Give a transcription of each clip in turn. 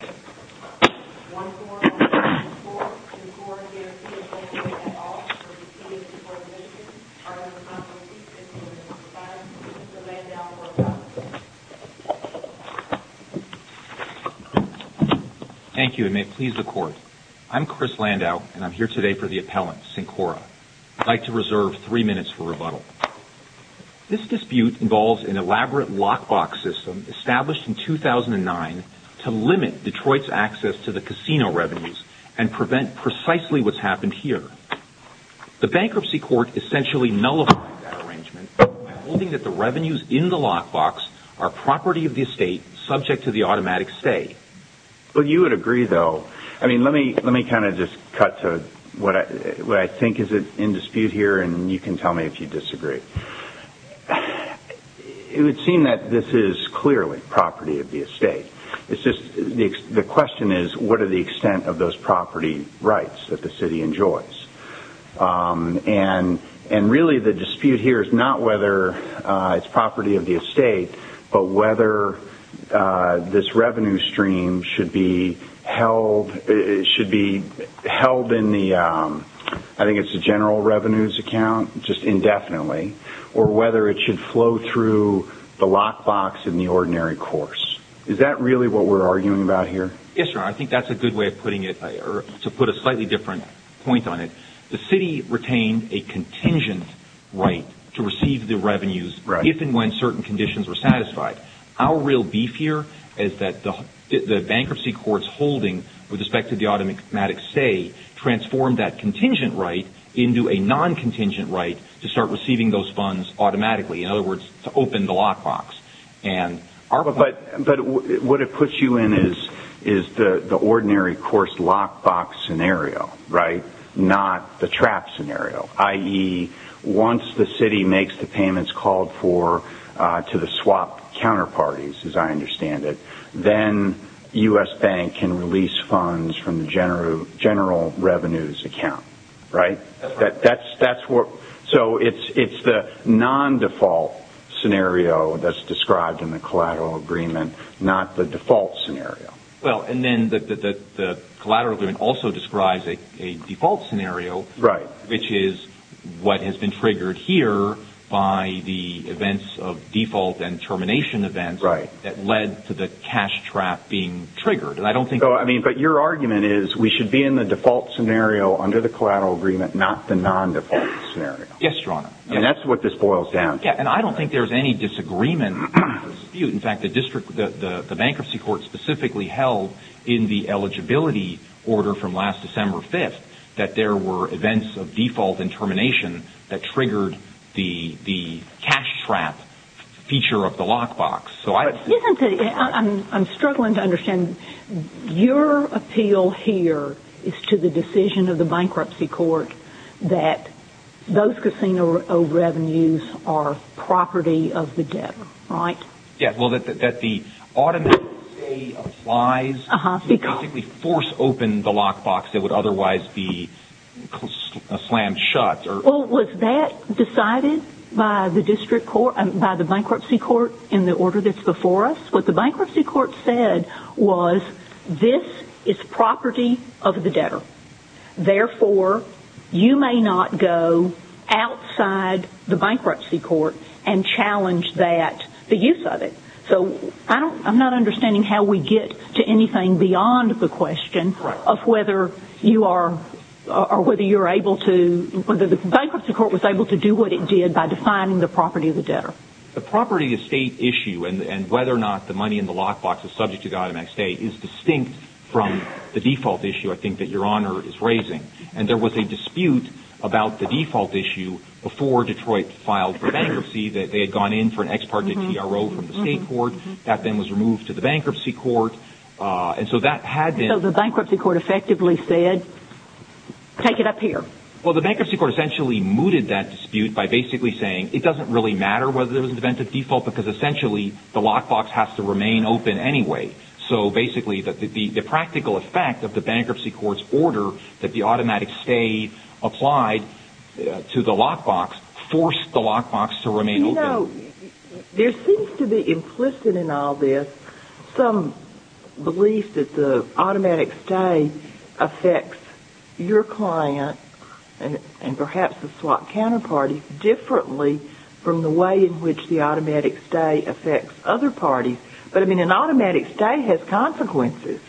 1-4-1-4, Cincora Guarantee is open at all for the City of Detroit Commission. Our responsibility is to respond to Mr. Landau's request. Thank you, and may it please the Court. I'm Chris Landau, and I'm here today for the appellant, Cincora. This dispute involves an elaborate lockbox system established in 2009 to limit Detroit's access to the casino revenues and prevent precisely what's happened here. The bankruptcy court essentially nullified that arrangement, holding that the revenues in the lockbox are property of the estate subject to the automatic stay. Well, you would agree, though. I mean, let me kind of just cut to what I think is in dispute here, and you can tell me if you disagree. It would seem that this is clearly property of the estate. It's just the question is, what are the extent of those property rights that the city enjoys? And really the dispute here is not whether it's property of the estate, but whether this revenue stream should be held in the, I think it's the general revenues account, just indefinitely, or whether it should flow through the lockbox in the ordinary course. Is that really what we're arguing about here? Yes, Your Honor, I think that's a good way of putting it, to put a slightly different point on it. The city retained a contingent right to receive the revenues if and when certain conditions were satisfied. How real beef here is that the bankruptcy court's holding with respect to the automatic stay transformed that contingent right into a non-contingent right to start receiving those funds automatically. In other words, to open the lockbox. But what it puts you in is the ordinary course lockbox scenario, right? Not the trap scenario. I.e., once the city makes the payments called for to the swap counterparties, as I understand it, then U.S. Bank can release funds from the general revenues account, right? So it's the non-default scenario that's described in the collateral agreement, not the default scenario. Well, and then the collateral agreement also describes a default scenario, which is what has been triggered here by the events of default and termination events that led to the cash trap being triggered. But your argument is we should be in the default scenario under the collateral agreement, not the non-default scenario. Yes, Your Honor. And that's what this boils down to. And I don't think there's any disagreement or dispute. In fact, the bankruptcy court specifically held in the eligibility order from last December 5th that there were events of default and termination that triggered the cash trap feature of the lockbox. I'm struggling to understand. Your appeal here is to the decision of the bankruptcy court that those casino revenues are property of the debtor, right? Yes, well, that the automatic stay applies to basically force open the lockbox that would otherwise be slammed shut. Well, was that decided by the bankruptcy court in the order that's before us? What the bankruptcy court said was this is property of the debtor. Therefore, you may not go outside the bankruptcy court and challenge the use of it. So I'm not understanding how we get to anything beyond the question of whether you are able to The bankruptcy court was able to do what it did by defining the property of the debtor. The property of state issue and whether or not the money in the lockbox is subject to the automatic stay is distinct from the default issue, I think, that Your Honor is raising. And there was a dispute about the default issue before Detroit filed for bankruptcy that they had gone in for an ex parte TRO from the state court. That then was removed to the bankruptcy court. And so that had been So the bankruptcy court effectively said, take it up here. Well, the bankruptcy court essentially mooted that dispute by basically saying it doesn't really matter whether there was an event of default because essentially the lockbox has to remain open anyway. So basically the practical effect of the bankruptcy court's order that the automatic stay applied to the lockbox forced the lockbox to remain open. You know, there seems to be implicit in all this some belief that the automatic stay affects your client and perhaps the swap counterparty differently from the way in which the automatic stay affects other parties. But, I mean, an automatic stay has consequences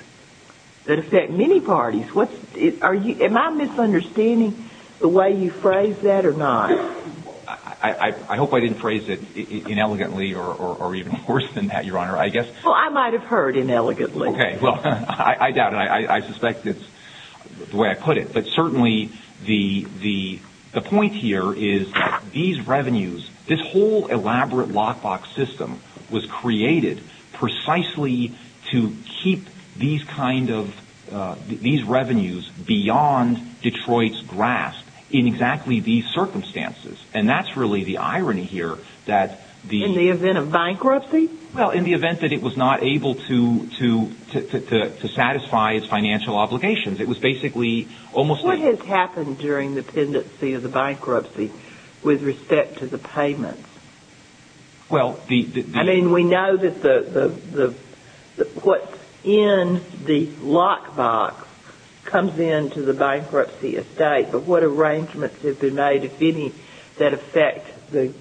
that affect many parties. Am I misunderstanding the way you phrase that or not? I hope I didn't phrase it inelegantly or even worse than that, Your Honor. Well, I might have heard inelegantly. Okay, well, I doubt it. I suspect it's the way I put it. But certainly the point here is that these revenues, this whole elaborate lockbox system was created precisely to keep these revenues beyond Detroit's grasp in exactly these circumstances. And that's really the irony here. In the event of bankruptcy? Well, in the event that it was not able to satisfy its financial obligations. It was basically almost... What has happened during the pendency of the bankruptcy with respect to the payments? Well, the... I mean, we know that what's in the lockbox comes into the bankruptcy estate. But what arrangements have been made, if any, that affect the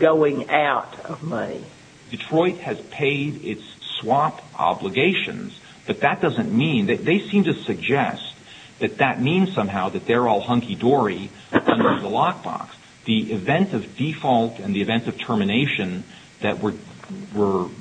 going out of money? Well, Detroit has paid its swap obligations. But that doesn't mean... They seem to suggest that that means somehow that they're all hunky-dory under the lockbox. The event of default and the event of termination that were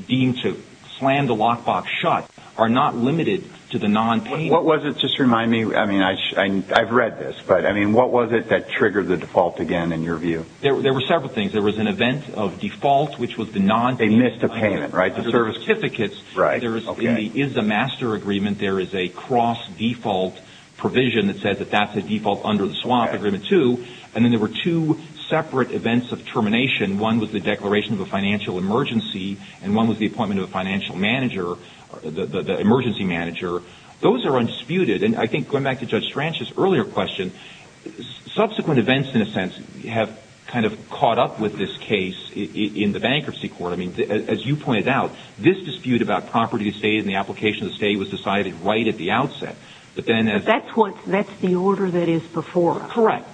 deemed to slam the lockbox shut are not limited to the nonpayment. What was it? Just remind me. I mean, I've read this, but what was it that triggered the default again, in your view? There were several things. There was an event of default, which was the nonpayment of service certificates. There is a master agreement. There is a cross-default provision that says that that's a default under the swap agreement, too. And then there were two separate events of termination. One was the declaration of a financial emergency, and one was the appointment of a financial manager, the emergency manager. Those are undisputed. And I think, going back to Judge Stranch's earlier question, subsequent events, in a sense, have kind of caught up with this case in the bankruptcy court. I mean, as you pointed out, this dispute about property estate and the application of the estate was decided right at the outset. But then as... But that's the order that is before us. Correct.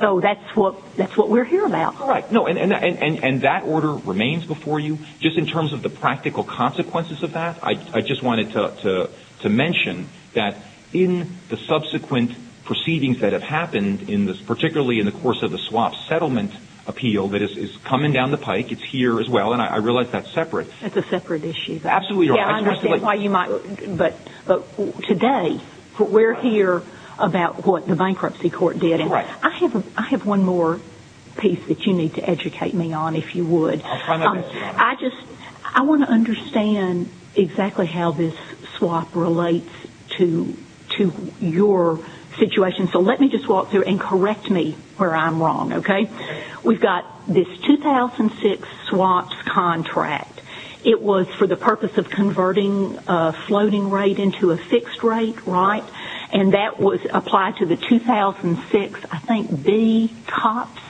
So that's what we're here about. Correct. And that order remains before you? Just in terms of the practical consequences of that, I just wanted to mention that in the subsequent proceedings that have happened, particularly in the course of the swap settlement appeal that is coming down the pike, it's here as well, and I realize that's separate. That's a separate issue. Absolutely. I understand why you might... But today, we're here about what the bankruptcy court did. Right. I have one more piece that you need to educate me on, if you would. I'll try my best to. I just... I want to understand exactly how this swap relates to your situation. So let me just walk through and correct me where I'm wrong, okay? Okay. We've got this 2006 swaps contract. It was for the purpose of converting a floating rate into a fixed rate, right? And that was applied to the 2006, I think, B COPS.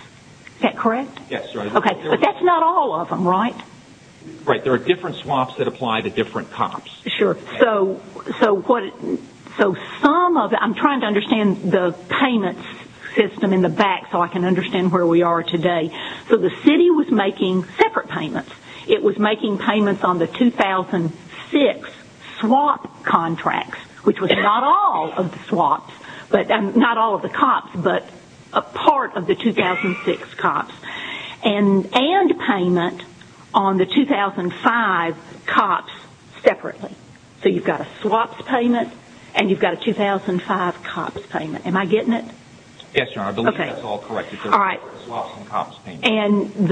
Is that correct? Yes. Okay. But that's not all of them, right? Right. There are different swaps that apply to different COPS. Sure. So some of... I'm trying to understand the payment system in the back so I can understand where we are today. So the city was making separate payments. It was making payments on the 2006 swap contracts, which was not all of the swaps, not all of the COPS, but a part of the 2006 COPS. And payment on the 2005 COPS separately. So you've got a swaps payment and you've got a 2005 COPS payment. Am I getting it? Yes, Your Honor. I believe that's all correct. All right. Swaps and COPS payment. And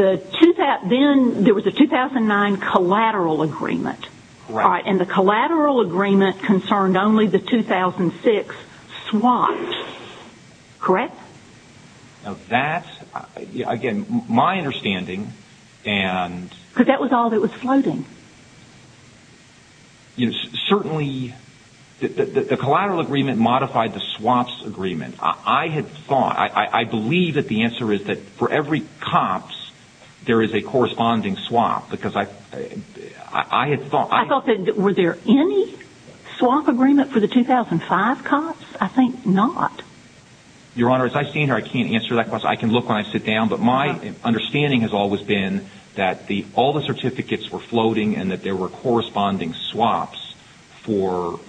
then there was a 2009 collateral agreement. Right. And the collateral agreement concerned only the 2006 swaps. Correct? Now that, again, my understanding and... Because that was all that was floating. Certainly, the collateral agreement modified the swaps agreement. I had thought, I believe that the answer is that for every COPS, there is a corresponding swap because I had thought... I thought that, were there any swap agreement for the 2005 COPS? I think not. Your Honor, as I stand here, I can't answer that question. I can look when I sit down. But my understanding has always been that all the certificates were floating and that there were corresponding swaps for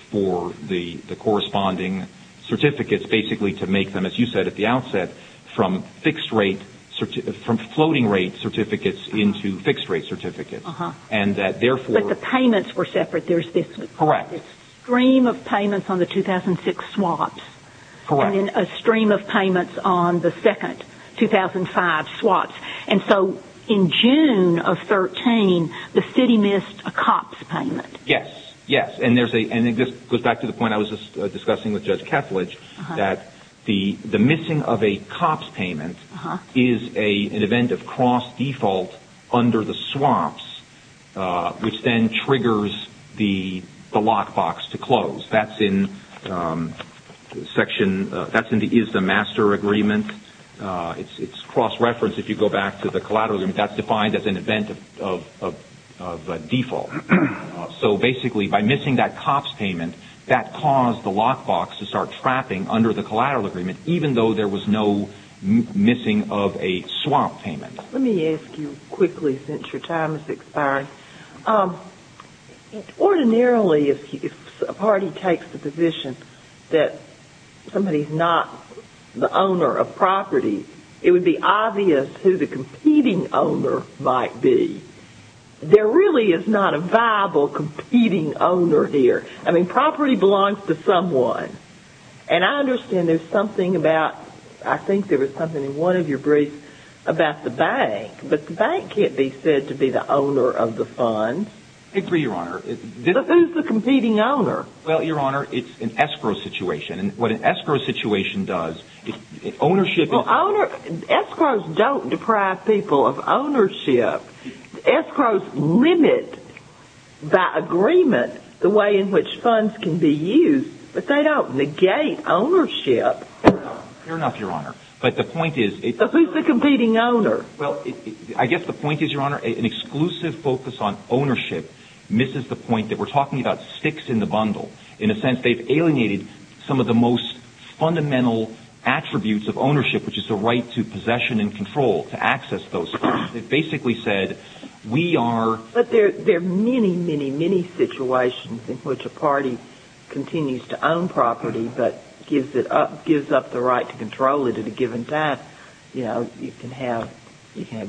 the corresponding certificates, basically to make them, as you said at the outset, from floating rate certificates into fixed rate certificates. And that, therefore... But the payments were separate. There's this one. Correct. Stream of payments on the 2006 swaps. Correct. And then a stream of payments on the second 2005 swaps. And so in June of 2013, the city missed a COPS payment. Yes. Yes. And this goes back to the point I was discussing with Judge Ketledge that the missing of a COPS payment is an event of cross default under the swaps, which then triggers the lockbox to close. That's in the is the master agreement. It's cross reference if you go back to the collateral agreement. That's defined as an event of default. So basically, by missing that COPS payment, that caused the lockbox to start trapping under the collateral agreement, even though there was no missing of a swap payment. Let me ask you quickly, since your time has expired. Ordinarily, if a party takes the position that somebody is not the owner of property, it would be obvious who the competing owner might be. There really is not a viable competing owner here. I mean, property belongs to someone. And I understand there's something about... I think there was something in one of your briefs about the bank. But the bank can't be said to be the owner of the funds. I agree, Your Honor. But who's the competing owner? Well, Your Honor, it's an escrow situation. And what an escrow situation does is ownership... Well, escrows don't deprive people of ownership. Escrows limit by agreement the way in which funds can be used. But they don't negate ownership. Fair enough, Your Honor. But the point is... But who's the competing owner? Well, I guess the point is, Your Honor, an exclusive focus on ownership misses the point that we're talking about sticks in the bundle. In a sense, they've alienated some of the most fundamental attributes of ownership, which is the right to possession and control, to access those funds. They basically said, we are... But there are many, many, many situations in which a party continues to own property but gives up the right to control it at a given time. You know, you can have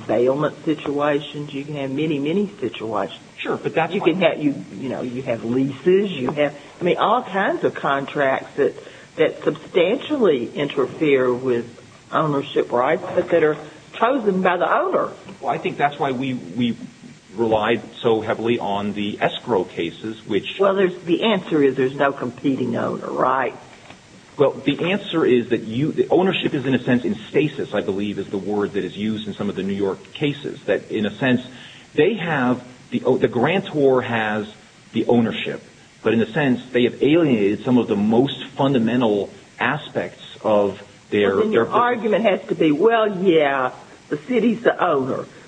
bailment situations. You can have many, many situations. Sure, but that's why... You know, you have leases. I mean, all kinds of contracts that substantially interfere with ownership rights but that are chosen by the owner. Well, I think that's why we relied so heavily on the escrow cases, which... Well, the answer is there's no competing owner, right? Well, the answer is that you... Ownership is, in a sense, in stasis, I believe is the word that is used in some of the New York cases. In a sense, they have... The grantor has the ownership. But in a sense, they have alienated some of the most fundamental aspects of their...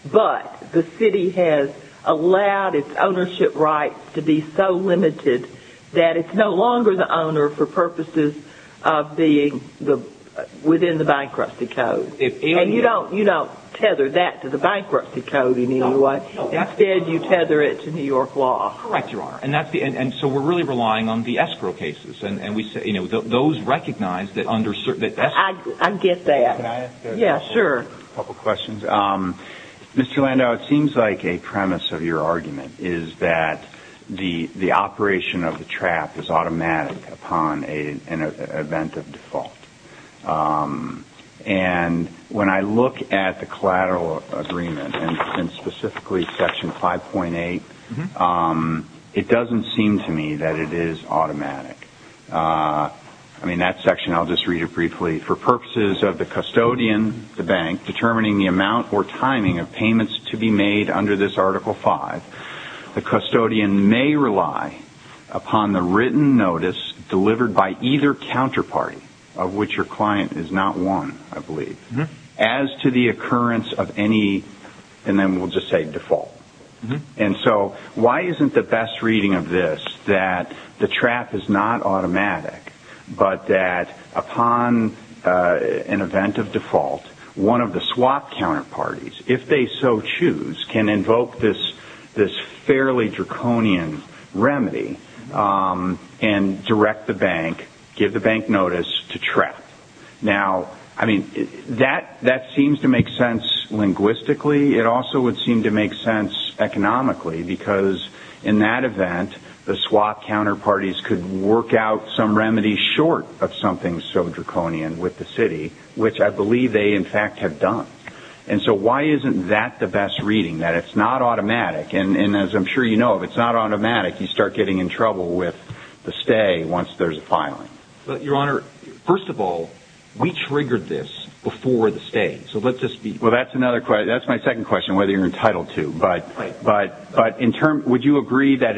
But the city has allowed its ownership rights to be so limited that it's no longer the owner for purposes of being within the bankruptcy code. And you don't tether that to the bankruptcy code in any way. Instead, you tether it to New York law. Correct, Your Honor. And so we're really relying on the escrow cases. And those recognize that under certain... I get that. Can I ask a couple questions? Mr. Landau, it seems like a premise of your argument is that the operation of the trap is automatic upon an event of default. And when I look at the collateral agreement, and specifically Section 5.8, it doesn't seem to me that it is automatic. I mean, that section, I'll just read it briefly. For purposes of the custodian, the bank, determining the amount or timing of payments to be made under this Article 5, the custodian may rely upon the written notice delivered by either counterparty, of which your client is not one, I believe, as to the occurrence of any... And then we'll just say default. And so why isn't the best reading of this that the trap is not automatic but that upon an event of default, one of the swap counterparties, if they so choose, can invoke this fairly draconian remedy and direct the bank, give the bank notice to trap? Now, I mean, that seems to make sense linguistically. It also would seem to make sense economically because in that event, the swap counterparties could work out some remedy short of something so draconian with the city, which I believe they, in fact, have done. And so why isn't that the best reading, that it's not automatic? And as I'm sure you know, if it's not automatic, you start getting in trouble with the stay once there's a filing. Your Honor, first of all, we triggered this before the stay. So let's just be clear. Well, that's my second question, whether you're entitled to. Right. But would you agree that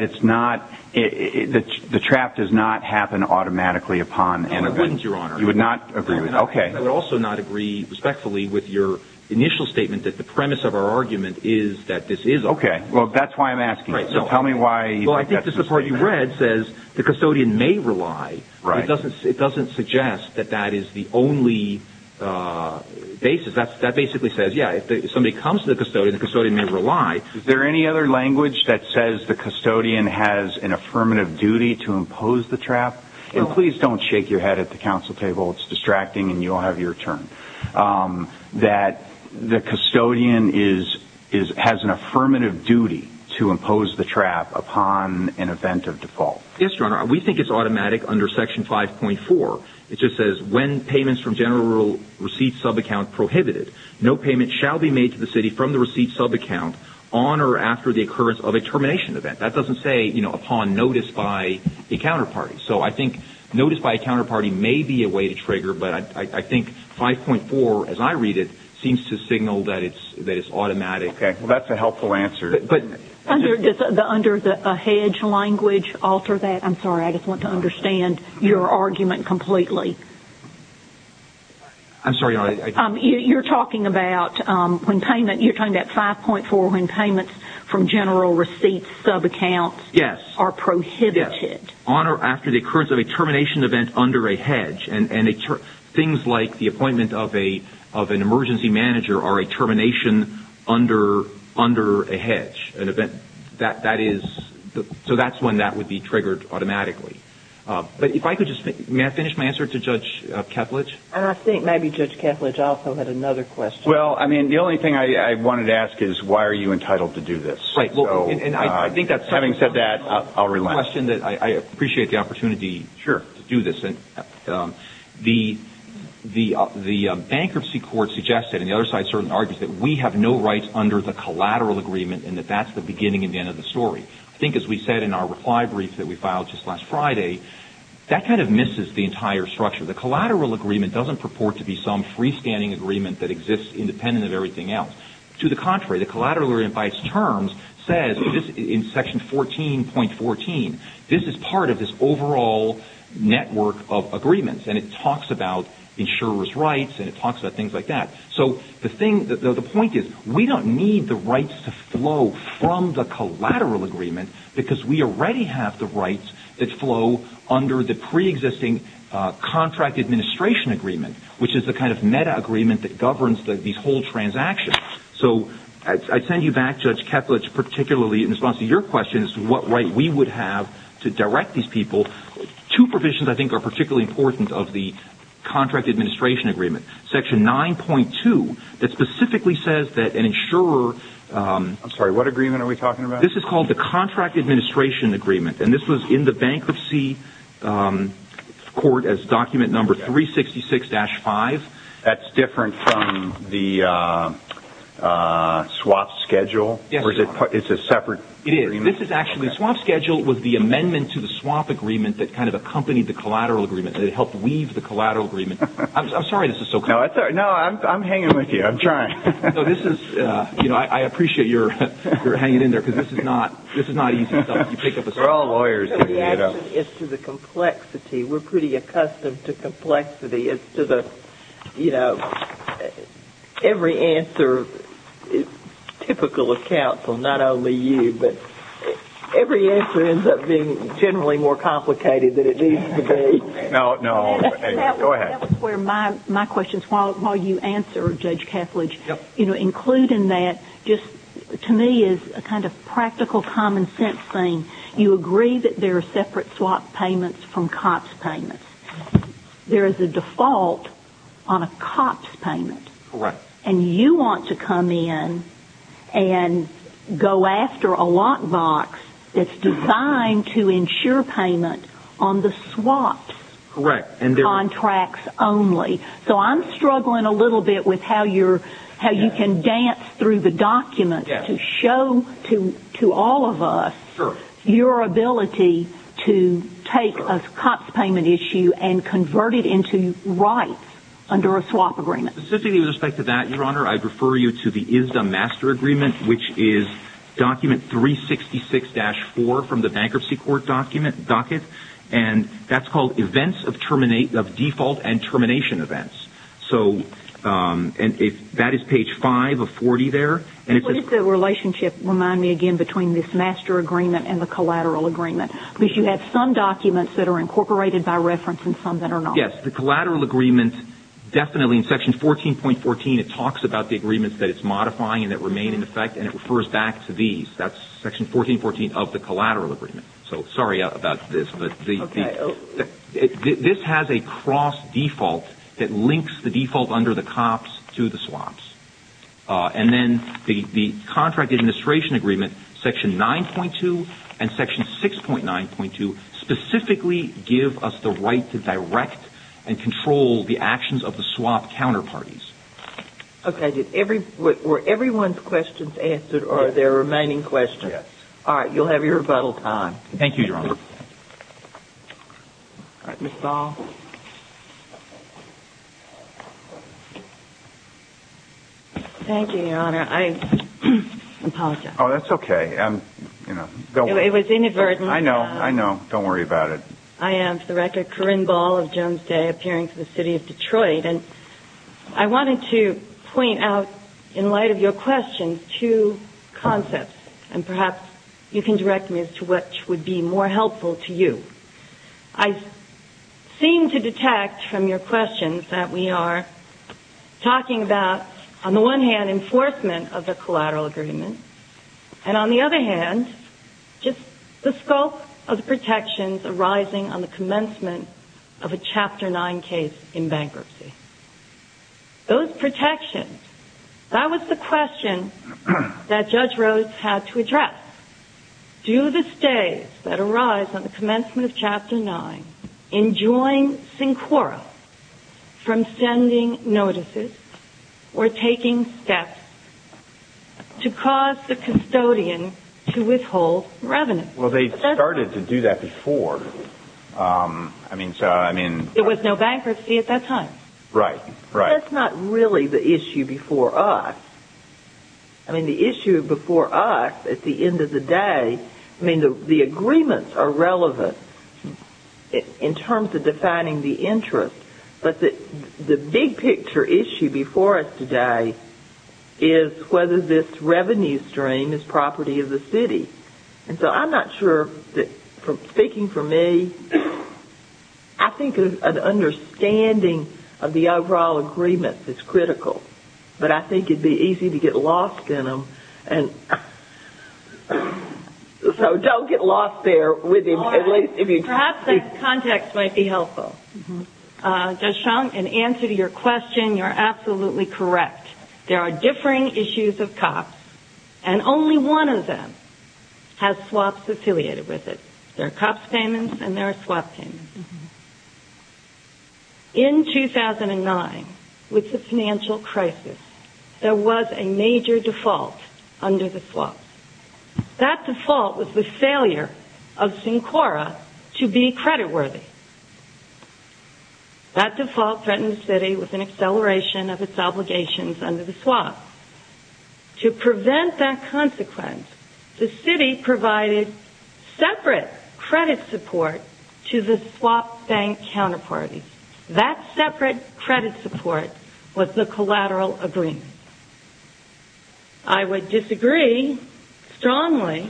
the trap does not happen automatically upon an event? I wouldn't, Your Honor. You would not agree with that? Okay. I would also not agree respectfully with your initial statement that the premise of our argument is that this is automatic. Okay. Well, that's why I'm asking. So tell me why you think that's the statement. Well, I think the part you read says the custodian may rely. Right. It doesn't suggest that that is the only basis. That basically says, yeah, if somebody comes to the custodian, the custodian may rely. Is there any other language that says the custodian has an affirmative duty to impose the trap? And please don't shake your head at the council table. It's distracting, and you don't have your turn. That the custodian has an affirmative duty to impose the trap upon an event of default. Yes, Your Honor. We think it's automatic under Section 5.4. It just says, when payments from general receipt subaccount prohibited, no payment shall be made to the city from the receipt subaccount on or after the occurrence of a termination event. That doesn't say upon notice by a counterparty. So I think notice by a counterparty may be a way to trigger, but I think 5.4, as I read it, seems to signal that it's automatic. Okay. Well, that's a helpful answer. But under the hedge language, alter that? I'm sorry, I just want to understand your argument completely. I'm sorry, Your Honor. You're talking about when payment, you're talking about 5.4 when payments from general receipt subaccounts are prohibited? Yes. On or after the occurrence of a termination event under a hedge. And things like the appointment of an emergency manager or a termination under a hedge. So that's when that would be triggered automatically. But if I could just finish my answer to Judge Ketledge. And I think maybe Judge Ketledge also had another question. Well, I mean, the only thing I wanted to ask is, why are you entitled to do this? Having said that, I'll relax. I appreciate the opportunity to do this. The bankruptcy court suggested, and the other side certainly argues, that we have no rights under the collateral agreement and that that's the beginning and the end of the story. I think as we said in our reply brief that we filed just last Friday, that kind of misses the entire structure. The collateral agreement doesn't purport to be some freestanding agreement that exists independent of everything else. To the contrary, the collateral agreement by its terms says, in Section 14.14, this is part of this overall network of agreements. And it talks about insurer's rights and it talks about things like that. So the point is, we don't need the rights to flow from the collateral agreement because we already have the rights that flow under the pre-existing contract administration agreement, which is the kind of meta-agreement that governs these whole transactions. So I'd send you back, Judge Ketledge, particularly in response to your question as to what right we would have to direct these people. Two provisions I think are particularly important of the contract administration agreement. Section 9.2 that specifically says that an insurer... I'm sorry, what agreement are we talking about? This is called the contract administration agreement, and this was in the bankruptcy court as document number 366-5. That's different from the swap schedule? Yes. It's a separate agreement? It is. This is actually... The swap schedule was the amendment to the swap agreement that kind of accompanied the collateral agreement. It helped weave the collateral agreement. I'm sorry this is so complicated. No, I'm hanging with you. I'm trying. I appreciate you're hanging in there because this is not easy stuff. We're all lawyers. It's to the complexity. We're pretty accustomed to complexity. It's to the, you know, every answer, typical of counsel, not only you, but every answer ends up being generally more complicated than it needs to be. No, no. Go ahead. That's where my question is. While you answer, Judge Cathledge, you know, including that, just to me is a kind of practical common sense thing. You agree that there are separate swap payments from COPS payments. There is a default on a COPS payment. Correct. And you want to come in and go after a lockbox that's designed to insure payment on the swap contracts only. So I'm struggling a little bit with how you can dance through the document to show to all of us your ability to take a COPS payment issue and convert it into rights under a swap agreement. Specifically with respect to that, Your Honor, I'd refer you to the ISDA Master Agreement, which is document 366-4 from the Bankruptcy Court docket, and that's called Events of Default and Termination Events. So that is page 5 of 40 there. What does the relationship, remind me again, between this master agreement and the collateral agreement? Because you have some documents that are incorporated by reference and some that are not. Yes. The collateral agreement, definitely in section 14.14, it talks about the agreements that it's modifying and that remain in effect, and it refers back to these. That's section 14.14 of the collateral agreement. So sorry about this, but this has a cross default that links the default under the COPS to the swaps. And then the contract administration agreement, section 9.2 and section 6.9.2, specifically give us the right to direct and control the actions of the swap counterparties. Okay. Were everyone's questions answered or are there remaining questions? Yes. All right. You'll have your rebuttal time. Thank you, Your Honor. Ms. Ball? Thank you, Your Honor. I apologize. Oh, that's okay. It was inadvertent. I know. I know. Don't worry about it. I am, for the record, Corinne Ball of Jones Day, appearing for the city of Detroit. And I wanted to point out, in light of your questions, two concepts, and perhaps you can direct me as to which would be more helpful to you. I seem to detect from your questions that we are talking about, on the one hand, enforcement of the collateral agreement, and on the other hand, just the scope of the protections arising on the commencement of a Chapter 9 case in bankruptcy. Those protections, that was the question that Judge Rhodes had to address. Do the stays that arise on the commencement of Chapter 9 enjoin SINCORA from sending notices or taking steps to cause the custodian to withhold revenue? Well, they started to do that before. It was no bankruptcy at that time. Right, right. That's not really the issue before us. I mean, the issue before us, at the end of the day, I mean, the agreements are relevant in terms of defining the interest, but the big picture issue before us today is whether this revenue stream is property of the city. And so I'm not sure that, speaking for me, I think an understanding of the overall agreement is critical. But I think it would be easy to get lost in them. So don't get lost there. Perhaps that context might be helpful. Judge Chong, in answer to your question, you're absolutely correct. There are differing issues of COPS, and only one of them has SWAPs affiliated with it. There are COPS payments and there are SWAP payments. In 2009, with the financial crisis, there was a major default under the SWAPs. That default was the failure of Sincora to be creditworthy. That default threatened the city with an acceleration of its obligations under the SWAPs. To prevent that consequence, the city provided separate credit support to the SWAP bank counterparty. That separate credit support was the collateral agreement. I would disagree strongly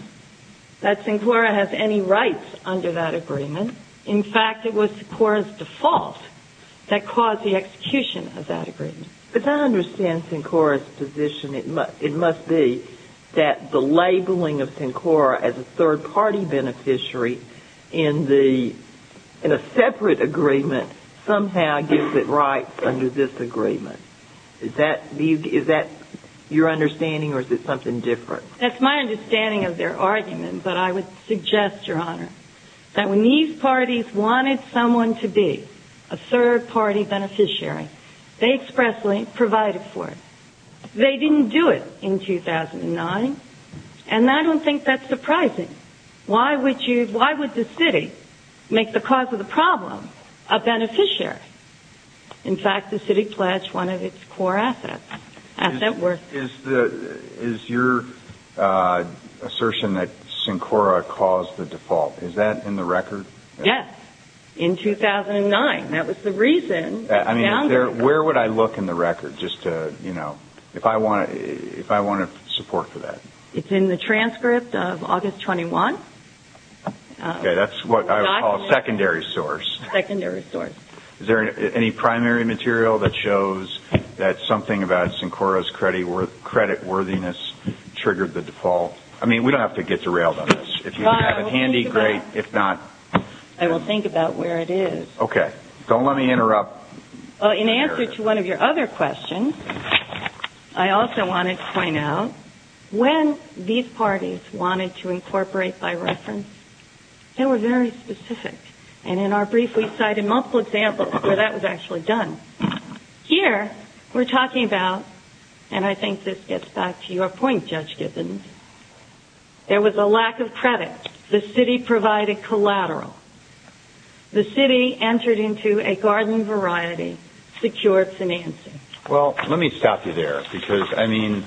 that Sincora has any rights under that agreement. In fact, it was Sincora's default that caused the execution of that agreement. But I understand Sincora's position. It must be that the labeling of Sincora as a third-party beneficiary in a separate agreement somehow gives it rights under this agreement. Is that your understanding, or is it something different? That's my understanding of their argument, but I would suggest, Your Honor, that when these parties wanted someone to be a third-party beneficiary, they expressly provided for it. They didn't do it in 2009, and I don't think that's surprising. Why would the city make the cause of the problem a beneficiary? In fact, the city pledged one of its core assets, asset worth. Is your assertion that Sincora caused the default, is that in the record? Yes, in 2009. That was the reason. I mean, where would I look in the record just to, you know, if I wanted support for that? It's in the transcript of August 21. Okay, that's what I would call a secondary source. Secondary source. Is there any primary material that shows that something about Sincora's creditworthiness triggered the default? I mean, we don't have to get derailed on this. If you have it handy, great. If not... I will think about where it is. Okay. Don't let me interrupt. In answer to one of your other questions, I also wanted to point out, when these parties wanted to incorporate by reference, they were very specific. And in our brief, we cited multiple examples where that was actually done. Here, we're talking about, and I think this gets back to your point, Judge Gibbons, there was a lack of credit. The city provided collateral. The city entered into a garden variety secured financing. Well, let me stop you there because, I mean,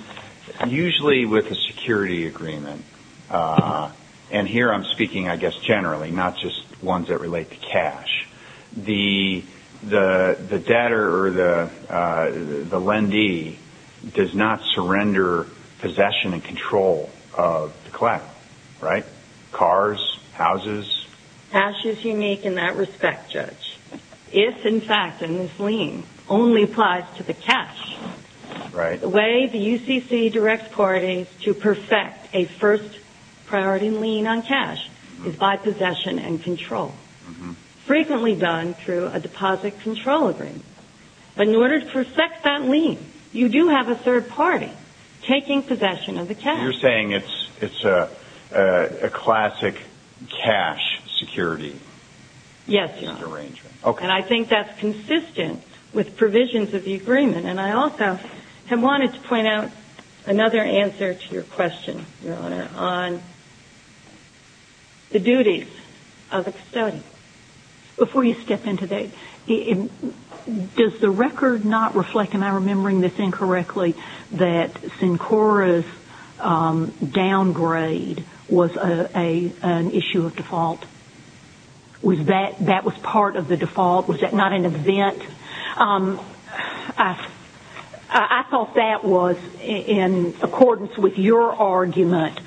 usually with a security agreement, and here I'm speaking, I guess, generally, not just ones that relate to cash, the debtor or the lendee does not surrender possession and control of the collateral, right? Cars, houses. Cash is unique in that respect, Judge. If, in fact, in this lien, only applies to the cash, the way the UCC directs parties to perfect a first priority lien on cash is by possession and control, frequently done through a deposit control agreement. But in order to perfect that lien, you do have a third party taking possession of the cash. You're saying it's a classic cash security arrangement. Yes, Your Honor. Okay. And I think that's consistent with provisions of the agreement, and I also have wanted to point out another answer to your question, Your Honor, on the duties of a custodian. Before you step into that, does the record not reflect, and I'm remembering this incorrectly, that Sincora's downgrade was an issue of default? Was that part of the default? Was that not an event? I thought that was, in accordance with your argument,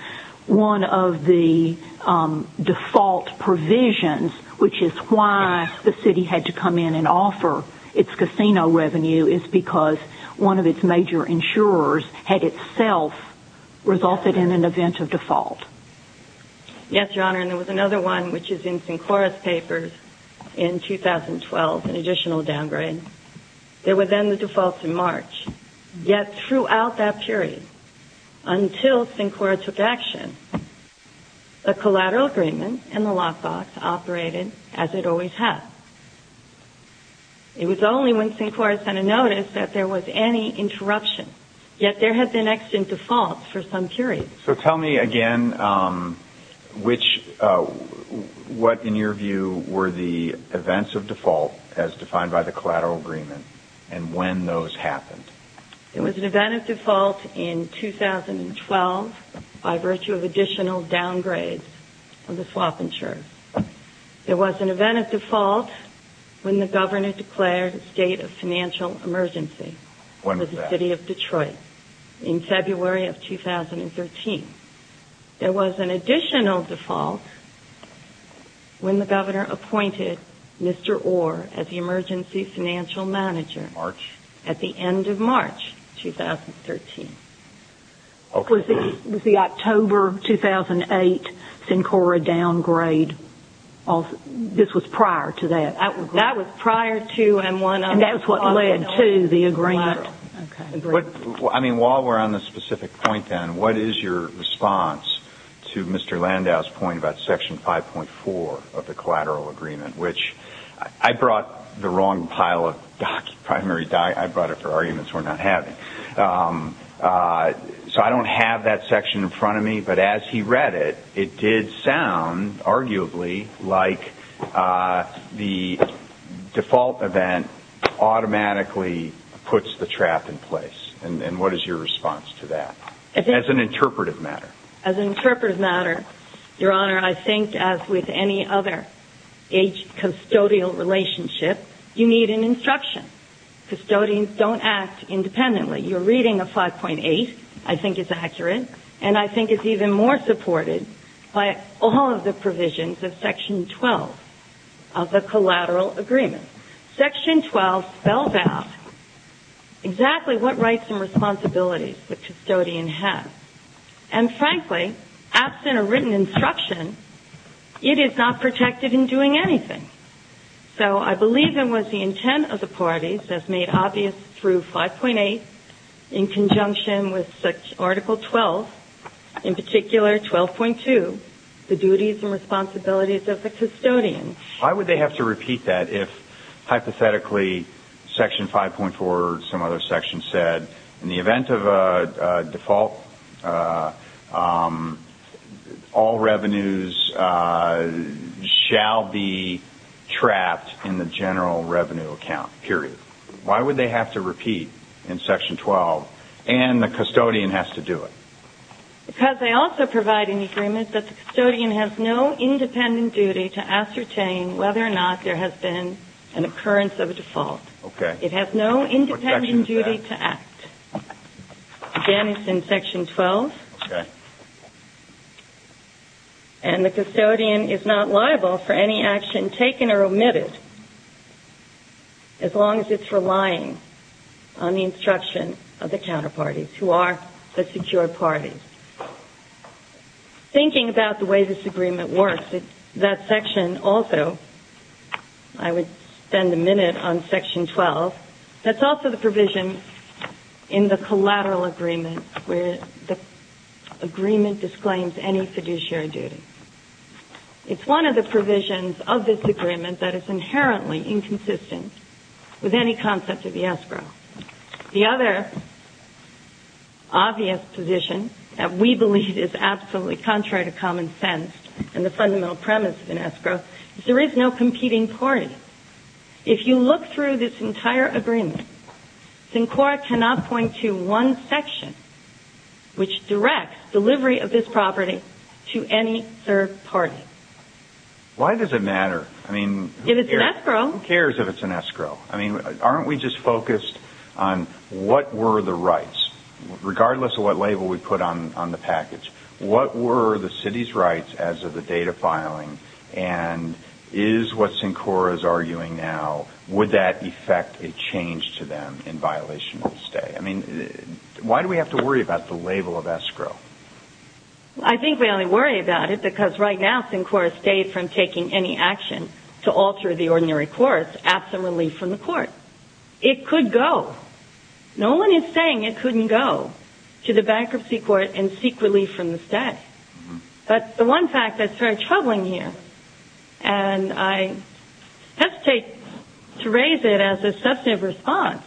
one of the default provisions, which is why the city had to come in and offer its casino revenue, is because one of its major insurers had itself resulted in an event of default. Yes, Your Honor. And there was another one, which is in Sincora's papers in 2012, an additional downgrade. There were then the defaults in March. Yet throughout that period, until Sincora took action, the collateral agreement and the lockbox operated as it always has. It was only when Sincora sent a notice that there was any interruption. Yet there had been exigent defaults for some period. So tell me again what, in your view, were the events of default, as defined by the collateral agreement, and when those happened. There was an event of default in 2012 by virtue of additional downgrades of the swap insurer. There was an event of default when the governor declared a state of financial emergency. When was that? In February of 2013. There was an additional default when the governor appointed Mr. Orr as the emergency financial manager. March. At the end of March 2013. Okay. Was the October 2008 Sincora downgrade, this was prior to that? That was prior to and one of the swap insurers. I mean, while we're on the specific point then, what is your response to Mr. Landau's point about Section 5.4 of the collateral agreement, which I brought the wrong pile of primary documents. I brought it for arguments we're not having. So I don't have that section in front of me, but as he read it, it did sound, arguably, like the default event automatically puts the trap in place. And what is your response to that? As an interpretive matter. As an interpretive matter, Your Honor, I think as with any other age custodial relationship, you need an instruction. Custodians don't act independently. You're reading a 5.8. I think it's accurate. And I think it's even more supported by all of the provisions of Section 12 of the collateral agreement. Section 12 spells out exactly what rights and responsibilities the custodian has. And frankly, absent a written instruction, it is not protected in doing anything. So I believe it was the intent of the parties that made obvious through 5.8, in conjunction with Article 12, in particular 12.2, the duties and responsibilities of the custodian. Why would they have to repeat that if hypothetically Section 5.4 or some other section said, in the event of a default, all revenues shall be trapped in the general revenue account, period? Why would they have to repeat in Section 12 and the custodian has to do it? Because they also provide an agreement that the custodian has no independent duty to ascertain whether or not there has been an occurrence of a default. Okay. It has no independent duty to act. Again, it's in Section 12. Okay. And the custodian is not liable for any action taken or omitted, as long as it's relying on the instruction of the counterparties, who are the secured parties. Thinking about the way this agreement works, that section also, I would spend a minute on Section 12, that's also the provision in the collateral agreement where the agreement disclaims any fiduciary duty. It's one of the provisions of this agreement that is inherently inconsistent with any concept of the escrow. The other obvious position that we believe is absolutely contrary to common sense and the fundamental premise of an escrow is there is no competing party. If you look through this entire agreement, SINCORA cannot point to one section which directs delivery of this property to any third party. Why does it matter? I mean, who cares if it's an escrow? I mean, aren't we just focused on what were the rights, regardless of what label we put on the package, what were the city's rights as of the date of filing and is what SINCORA is arguing now, would that effect a change to them in violation of the stay? I mean, why do we have to worry about the label of escrow? I think we only worry about it because right now SINCORA stayed from taking any action to alter the ordinary court's absent relief from the court. It could go. No one is saying it couldn't go to the bankruptcy court and seek relief from the stay. But the one fact that's very troubling here, and I hesitate to raise it as a substantive response,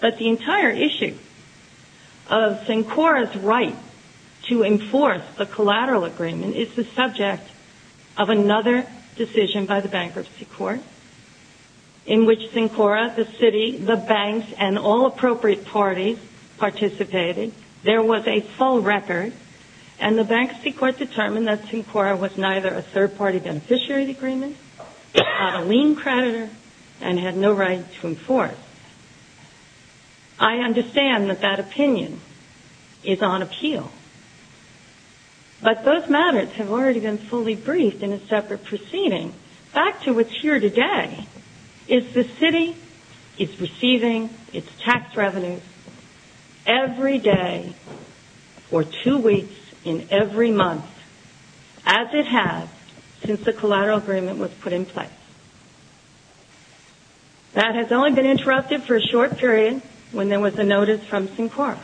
but the entire issue of SINCORA's right to enforce the collateral agreement is the subject of another decision by the bankruptcy court in which SINCORA, the city, the banks, and all appropriate parties participated. There was a full record, and the bankruptcy court determined that SINCORA was neither a third party beneficiary agreement, not a lien creditor, and had no right to enforce. I understand that that opinion is on appeal. But those matters have already been fully briefed in a separate proceeding. Back to what's here today is the city is receiving its tax revenues every day or two weeks in every month, as it has since the collateral agreement was put in place. That has only been interrupted for a short period when there was a notice from SINCORA.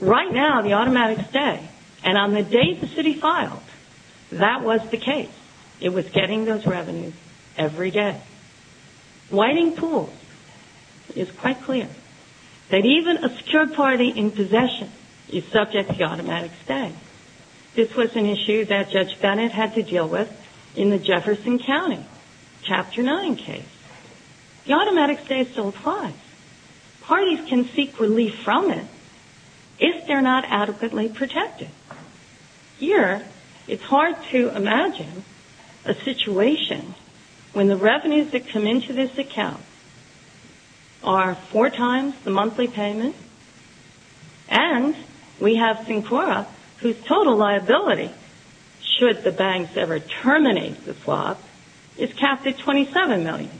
Right now, the automatic stay, and on the day the city filed, that was the case. It was getting those revenues every day. Whiting Pool is quite clear that even a secure party in possession is subject to the automatic stay. This was an issue that Judge Bennett had to deal with in the Jefferson County Chapter 9 case. The automatic stay still applies. Parties can seek relief from it if they're not adequately protected. Here, it's hard to imagine a situation when the revenues that come into this account are four times the monthly payment, and we have SINCORA, whose total liability, should the banks ever terminate the swap, is capped at $27 million.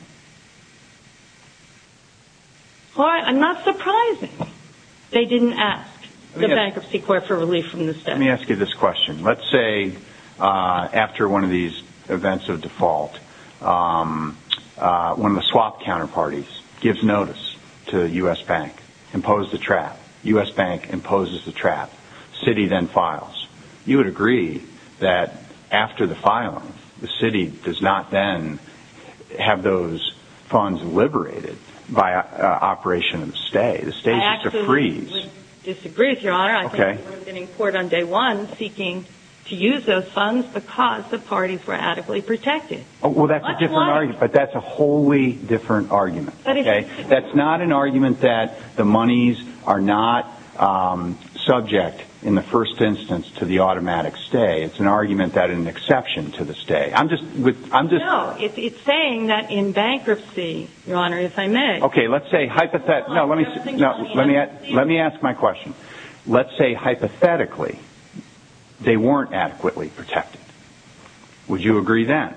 I'm not surprised they didn't ask the Bankruptcy Court for relief from the stay. Let me ask you this question. Let's say, after one of these events of default, one of the swap counterparties gives notice to U.S. Bank, imposes the trap, U.S. Bank imposes the trap, city then files. You would agree that after the filing, the city does not then have those funds liberated by operation of the stay? The stay is just a freeze. I absolutely disagree with you, Your Honor. I think I was in court on day one seeking to use those funds because the parties were adequately protected. Well, that's a different argument, but that's a wholly different argument. That's not an argument that the monies are not subject, in the first instance, to the automatic stay. It's an argument that an exception to the stay. I'm just... No, it's saying that in bankruptcy, Your Honor, if I may... Let me ask my question. Let's say, hypothetically, they weren't adequately protected. Would you agree then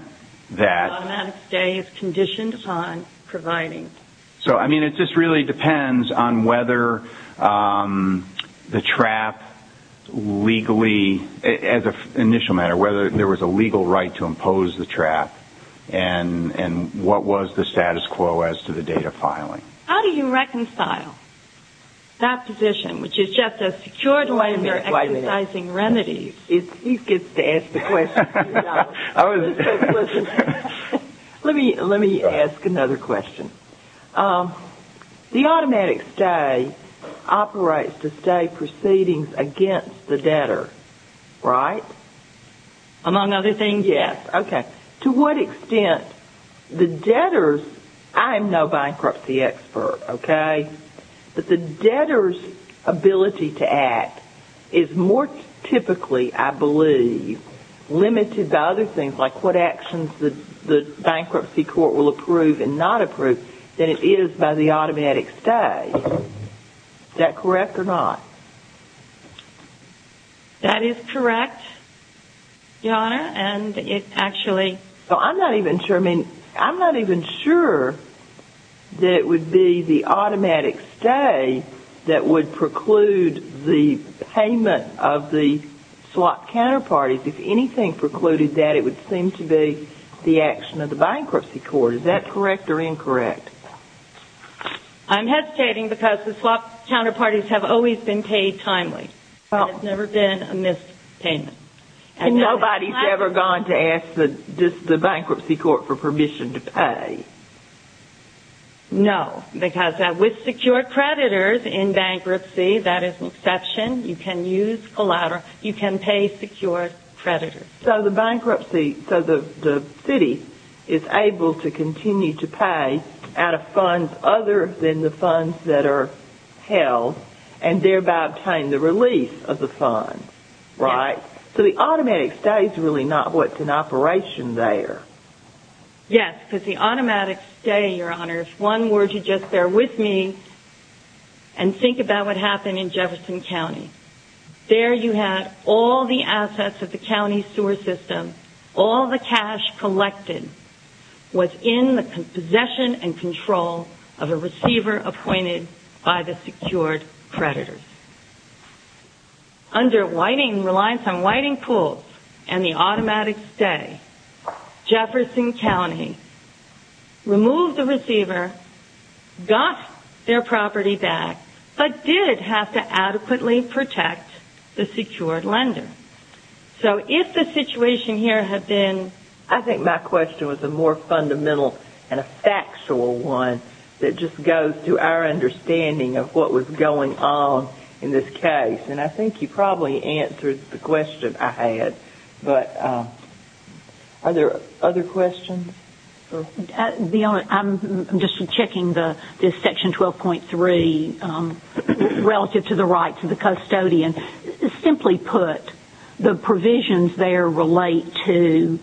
that... The automatic stay is conditioned upon providing. So, I mean, it just really depends on whether the trap legally, as an initial matter, or whether there was a legal right to impose the trap, and what was the status quo as to the date of filing. How do you reconcile that position, which is just a secured way of exercising remedies? He gets to ask the questions, Your Honor. Let me ask another question. The automatic stay operates the stay proceedings against the debtor, right? Among other things, yes. Okay. To what extent the debtor's... I am no bankruptcy expert, okay? But the debtor's ability to act is more typically, I believe, limited by other things, like what actions the bankruptcy court will approve and not approve, than it is by the automatic stay. Is that correct or not? That is correct, Your Honor, and it actually... Well, I'm not even sure, I mean, I'm not even sure that it would be the automatic stay that would preclude the payment of the swap counterparties. If anything precluded that, it would seem to be the action of the bankruptcy court. Is that correct or incorrect? I'm hesitating because the swap counterparties have always been paid timely. There's never been a missed payment. And nobody's ever gone to ask the bankruptcy court for permission to pay. No, because with secured creditors in bankruptcy, that is an exception. You can use collateral, you can pay secured creditors. So the bankruptcy, so the city is able to continue to pay out of funds other than the funds that are held and thereby obtain the release of the fund, right? Yes. So the automatic stay is really not what's in operation there. Yes, because the automatic stay, Your Honor, is one word you just bear with me and think about what happened in Jefferson County. There you had all the assets of the county sewer system. All the cash collected was in the possession and control of a receiver appointed by the secured creditors. Under reliance on whiting pools and the automatic stay, Jefferson County removed the receiver, got their property back, but did have to adequately protect the secured lender. So if the situation here had been- I think my question was a more fundamental and a factual one that just goes to our understanding of what was going on in this case. And I think you probably answered the question I had, but are there other questions? The Honor, I'm just checking this section 12.3 relative to the rights of the custodian. Simply put, the provisions there relate to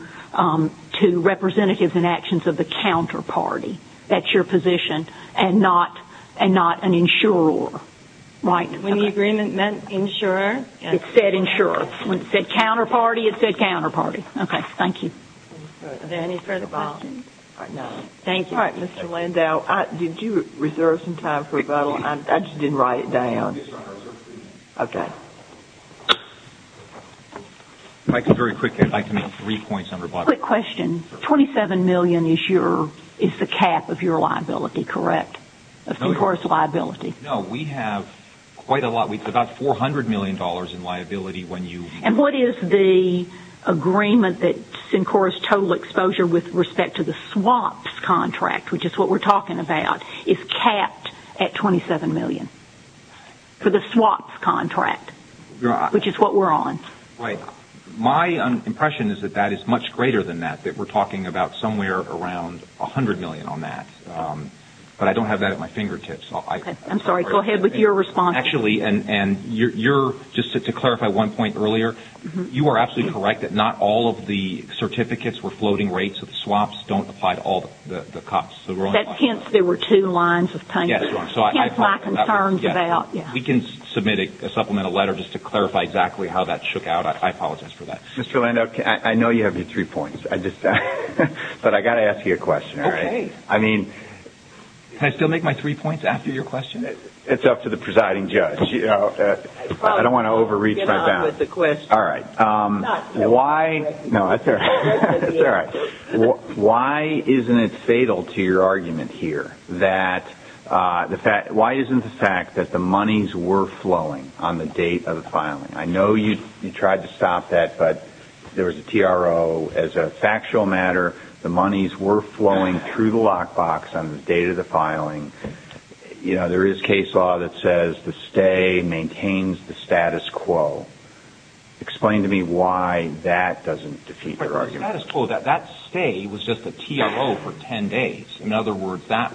representatives and actions of the counterparty. That's your position and not an insurer, right? When the agreement meant insurer- It said insurer. When it said counterparty, it said counterparty. Okay, thank you. Are there any further questions? No. Thank you. All right, Mr. Landau, did you reserve some time for rebuttal? I just didn't write it down. If I could very quickly, I'd like to make three points on rebuttal. Quick question. Twenty-seven million is the cap of your liability, correct? Of concourse liability. No, we have quite a lot. It's about $400 million in liability when you- And what is the agreement that's in concourse total exposure with respect to the swaps contract, which is what we're talking about, is capped at $27 million for the swaps contract, which is what we're on? My impression is that that is much greater than that, that we're talking about somewhere around $100 million on that. But I don't have that at my fingertips. I'm sorry, go ahead with your response. Actually, and you're- just to clarify one point earlier, you are absolutely correct that not all of the certificates were floating rates of swaps don't apply to all the cops. Hence, there were two lines of payment. Hence, my concerns about- We can submit a supplemental letter just to clarify exactly how that shook out. I apologize for that. Mr. Landau, I know you have your three points, but I've got to ask you a question, all right? Okay. I mean- Can I still make my three points after your question? It's up to the presiding judge. I don't want to overreach my bounds. Get on with the question. All right. Why- No, that's all right. That's all right. Why isn't it fatal to your argument here that the fact- Why isn't the fact that the monies were flowing on the date of the filing? I know you tried to stop that, but there was a TRO. As a factual matter, the monies were flowing through the lockbox on the date of the filing. There is case law that says the stay maintains the status quo. Explain to me why that doesn't defeat your argument. The status quo, that stay was just a TRO for 10 days. In other words, that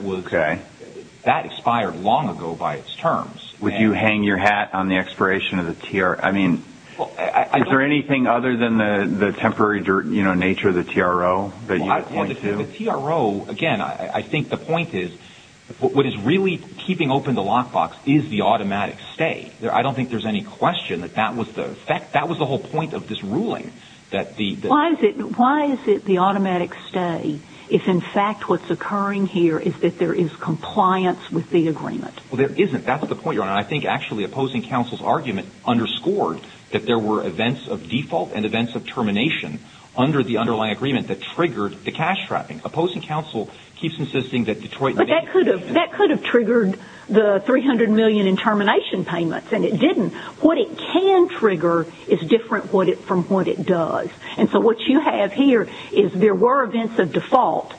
expired long ago by its terms. Would you hang your hat on the expiration of the TRO? Is there anything other than the temporary nature of the TRO that you point to? The TRO, again, I think the point is what is really keeping open the lockbox is the automatic stay. I don't think there's any question that that was the whole point of this ruling. Why is it the automatic stay if, in fact, what's occurring here is that there is compliance with the agreement? That's the point, Your Honor. I think actually opposing counsel's argument underscored that there were events of default and events of termination under the underlying agreement that triggered the cash trapping. Opposing counsel keeps insisting that Detroit— But that could have triggered the $300 million in termination payments, and it didn't. What it can trigger is different from what it does. And so what you have here is there were events of default.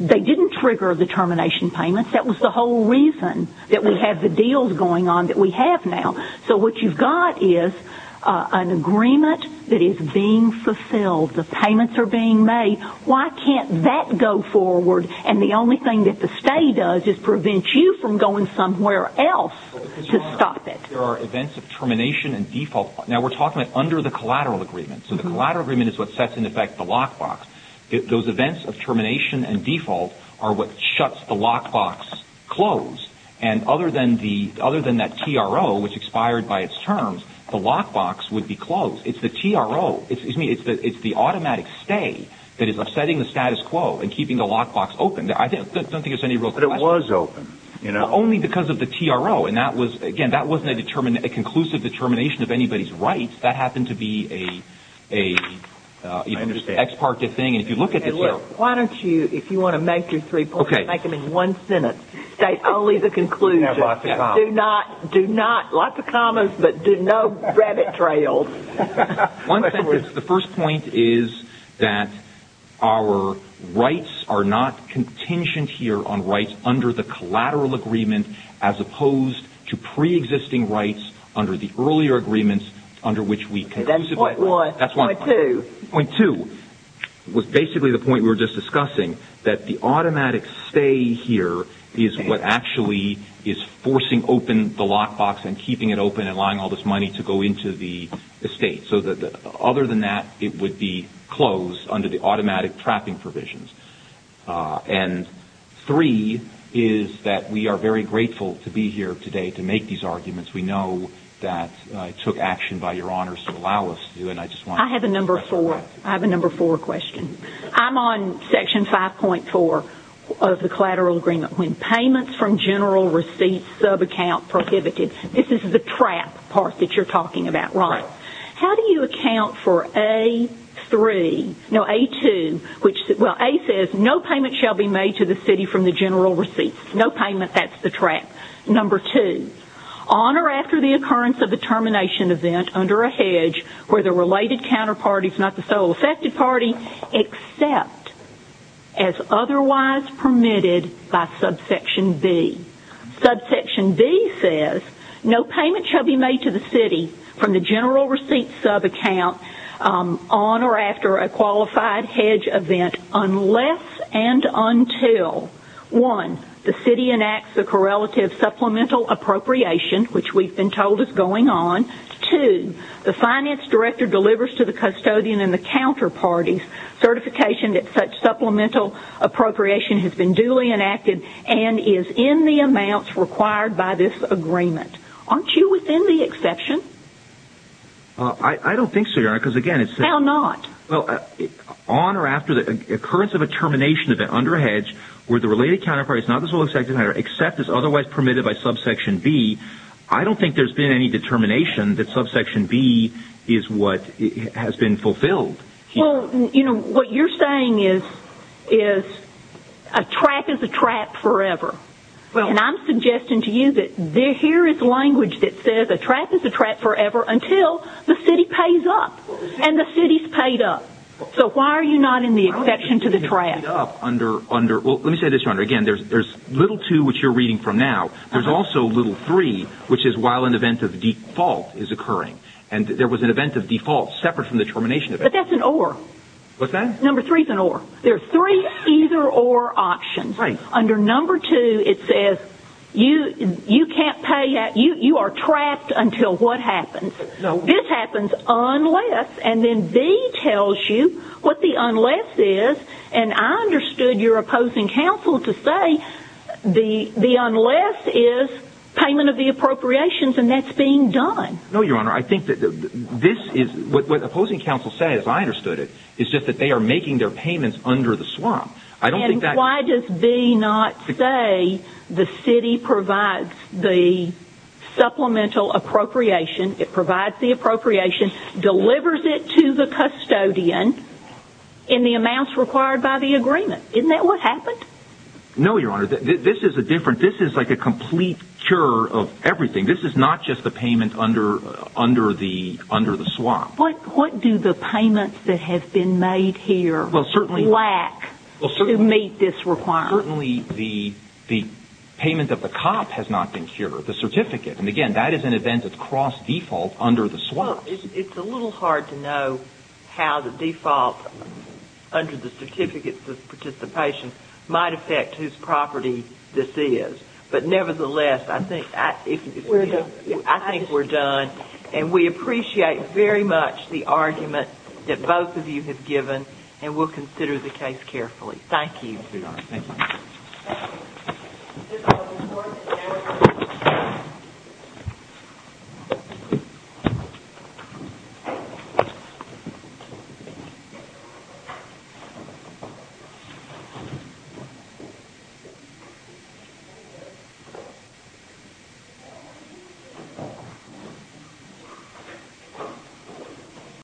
They didn't trigger the termination payments. That was the whole reason that we have the deals going on that we have now. So what you've got is an agreement that is being fulfilled. The payments are being made. Why can't that go forward? And the only thing that the stay does is prevent you from going somewhere else to stop it. There are events of termination and default. Now, we're talking about under the collateral agreement. So the collateral agreement is what sets in effect the lockbox. Those events of termination and default are what shuts the lockbox closed. And other than that TRO, which expired by its terms, the lockbox would be closed. It's the TRO. Excuse me. It's the automatic stay that is upsetting the status quo and keeping the lockbox open. I don't think there's any real question. But it was open. Only because of the TRO. And, again, that wasn't a conclusive determination of anybody's rights. That happened to be an ex parte thing. And if you look at the TRO. Why don't you, if you want to make your three points, make them in one sentence. State only the conclusion. Do not. Lots of commas, but do no rabbit trails. One sentence. The first point is that our rights are not contingent here on rights under the collateral agreement as opposed to pre-existing rights under the earlier agreements under which we conclusively. That's point one. Point two. Point two was basically the point we were just discussing. That the automatic stay here is what actually is forcing open the lockbox and keeping it open and allowing all this money to go into the estate. Other than that, it would be closed under the automatic trapping provisions. And three is that we are very grateful to be here today to make these arguments. We know that it took action by your honors to allow us to. I have a number four question. I'm on section 5.4 of the collateral agreement. When payments from general receipts subaccount prohibited. This is the trap part that you're talking about, Ron. How do you account for A2? A says no payment shall be made to the city from the general receipts. No payment. That's the trap. Number two. On or after the occurrence of the termination event under a hedge where the related counterpart is not the sole affected party except as otherwise permitted by subsection B. Subsection B says no payment shall be made to the city from the general receipts subaccount on or after a qualified hedge event unless and until one, the city enacts the correlative supplemental appropriation, which we've been told is going on. Two, the finance director delivers to the custodian and the counterparty certification that such supplemental appropriation has been duly enacted and is in the amounts required by this agreement. Aren't you within the exception? I don't think so, Your Honor. How not? On or after the occurrence of a termination event under a hedge where the related counterpart is not the sole affected party except as otherwise permitted by subsection B. I don't think there's been any determination that subsection B is what has been fulfilled. What you're saying is a trap is a trap forever. I'm suggesting to you that here is language that says a trap is a trap forever until the city pays up and the city's paid up. So why are you not in the exception to the trap? Let me say this, Your Honor. Again, there's little two, which you're reading from now. There's also little three, which is while an event of default is occurring. And there was an event of default separate from the termination event. But that's an or. What's that? Number three is an or. There are three either or options. Right. Under number two, it says you are trapped until what happens? This happens unless, and then B tells you what the unless is, and I understood your opposing counsel to say the unless is payment of the appropriations and that's being done. No, Your Honor. I think that this is what opposing counsel says. I understood it. It's just that they are making their payments under the swamp. And why does B not say the city provides the supplemental appropriation, it provides the appropriation, delivers it to the custodian in the amounts required by the agreement? Isn't that what happened? No, Your Honor. This is a different, this is like a complete cure of everything. This is not just the payment under the swamp. What do the payments that have been made here lack to meet this requirement? Certainly the payment of the cop has not been cured. The certificate. And, again, that is an event of cross-default under the swamp. It's a little hard to know how the default under the certificates of participation might affect whose property this is. But, nevertheless, I think we're done. And we appreciate very much the argument that both of you have given and we'll consider the case carefully. Thank you. Thank you, Your Honor. Thank you.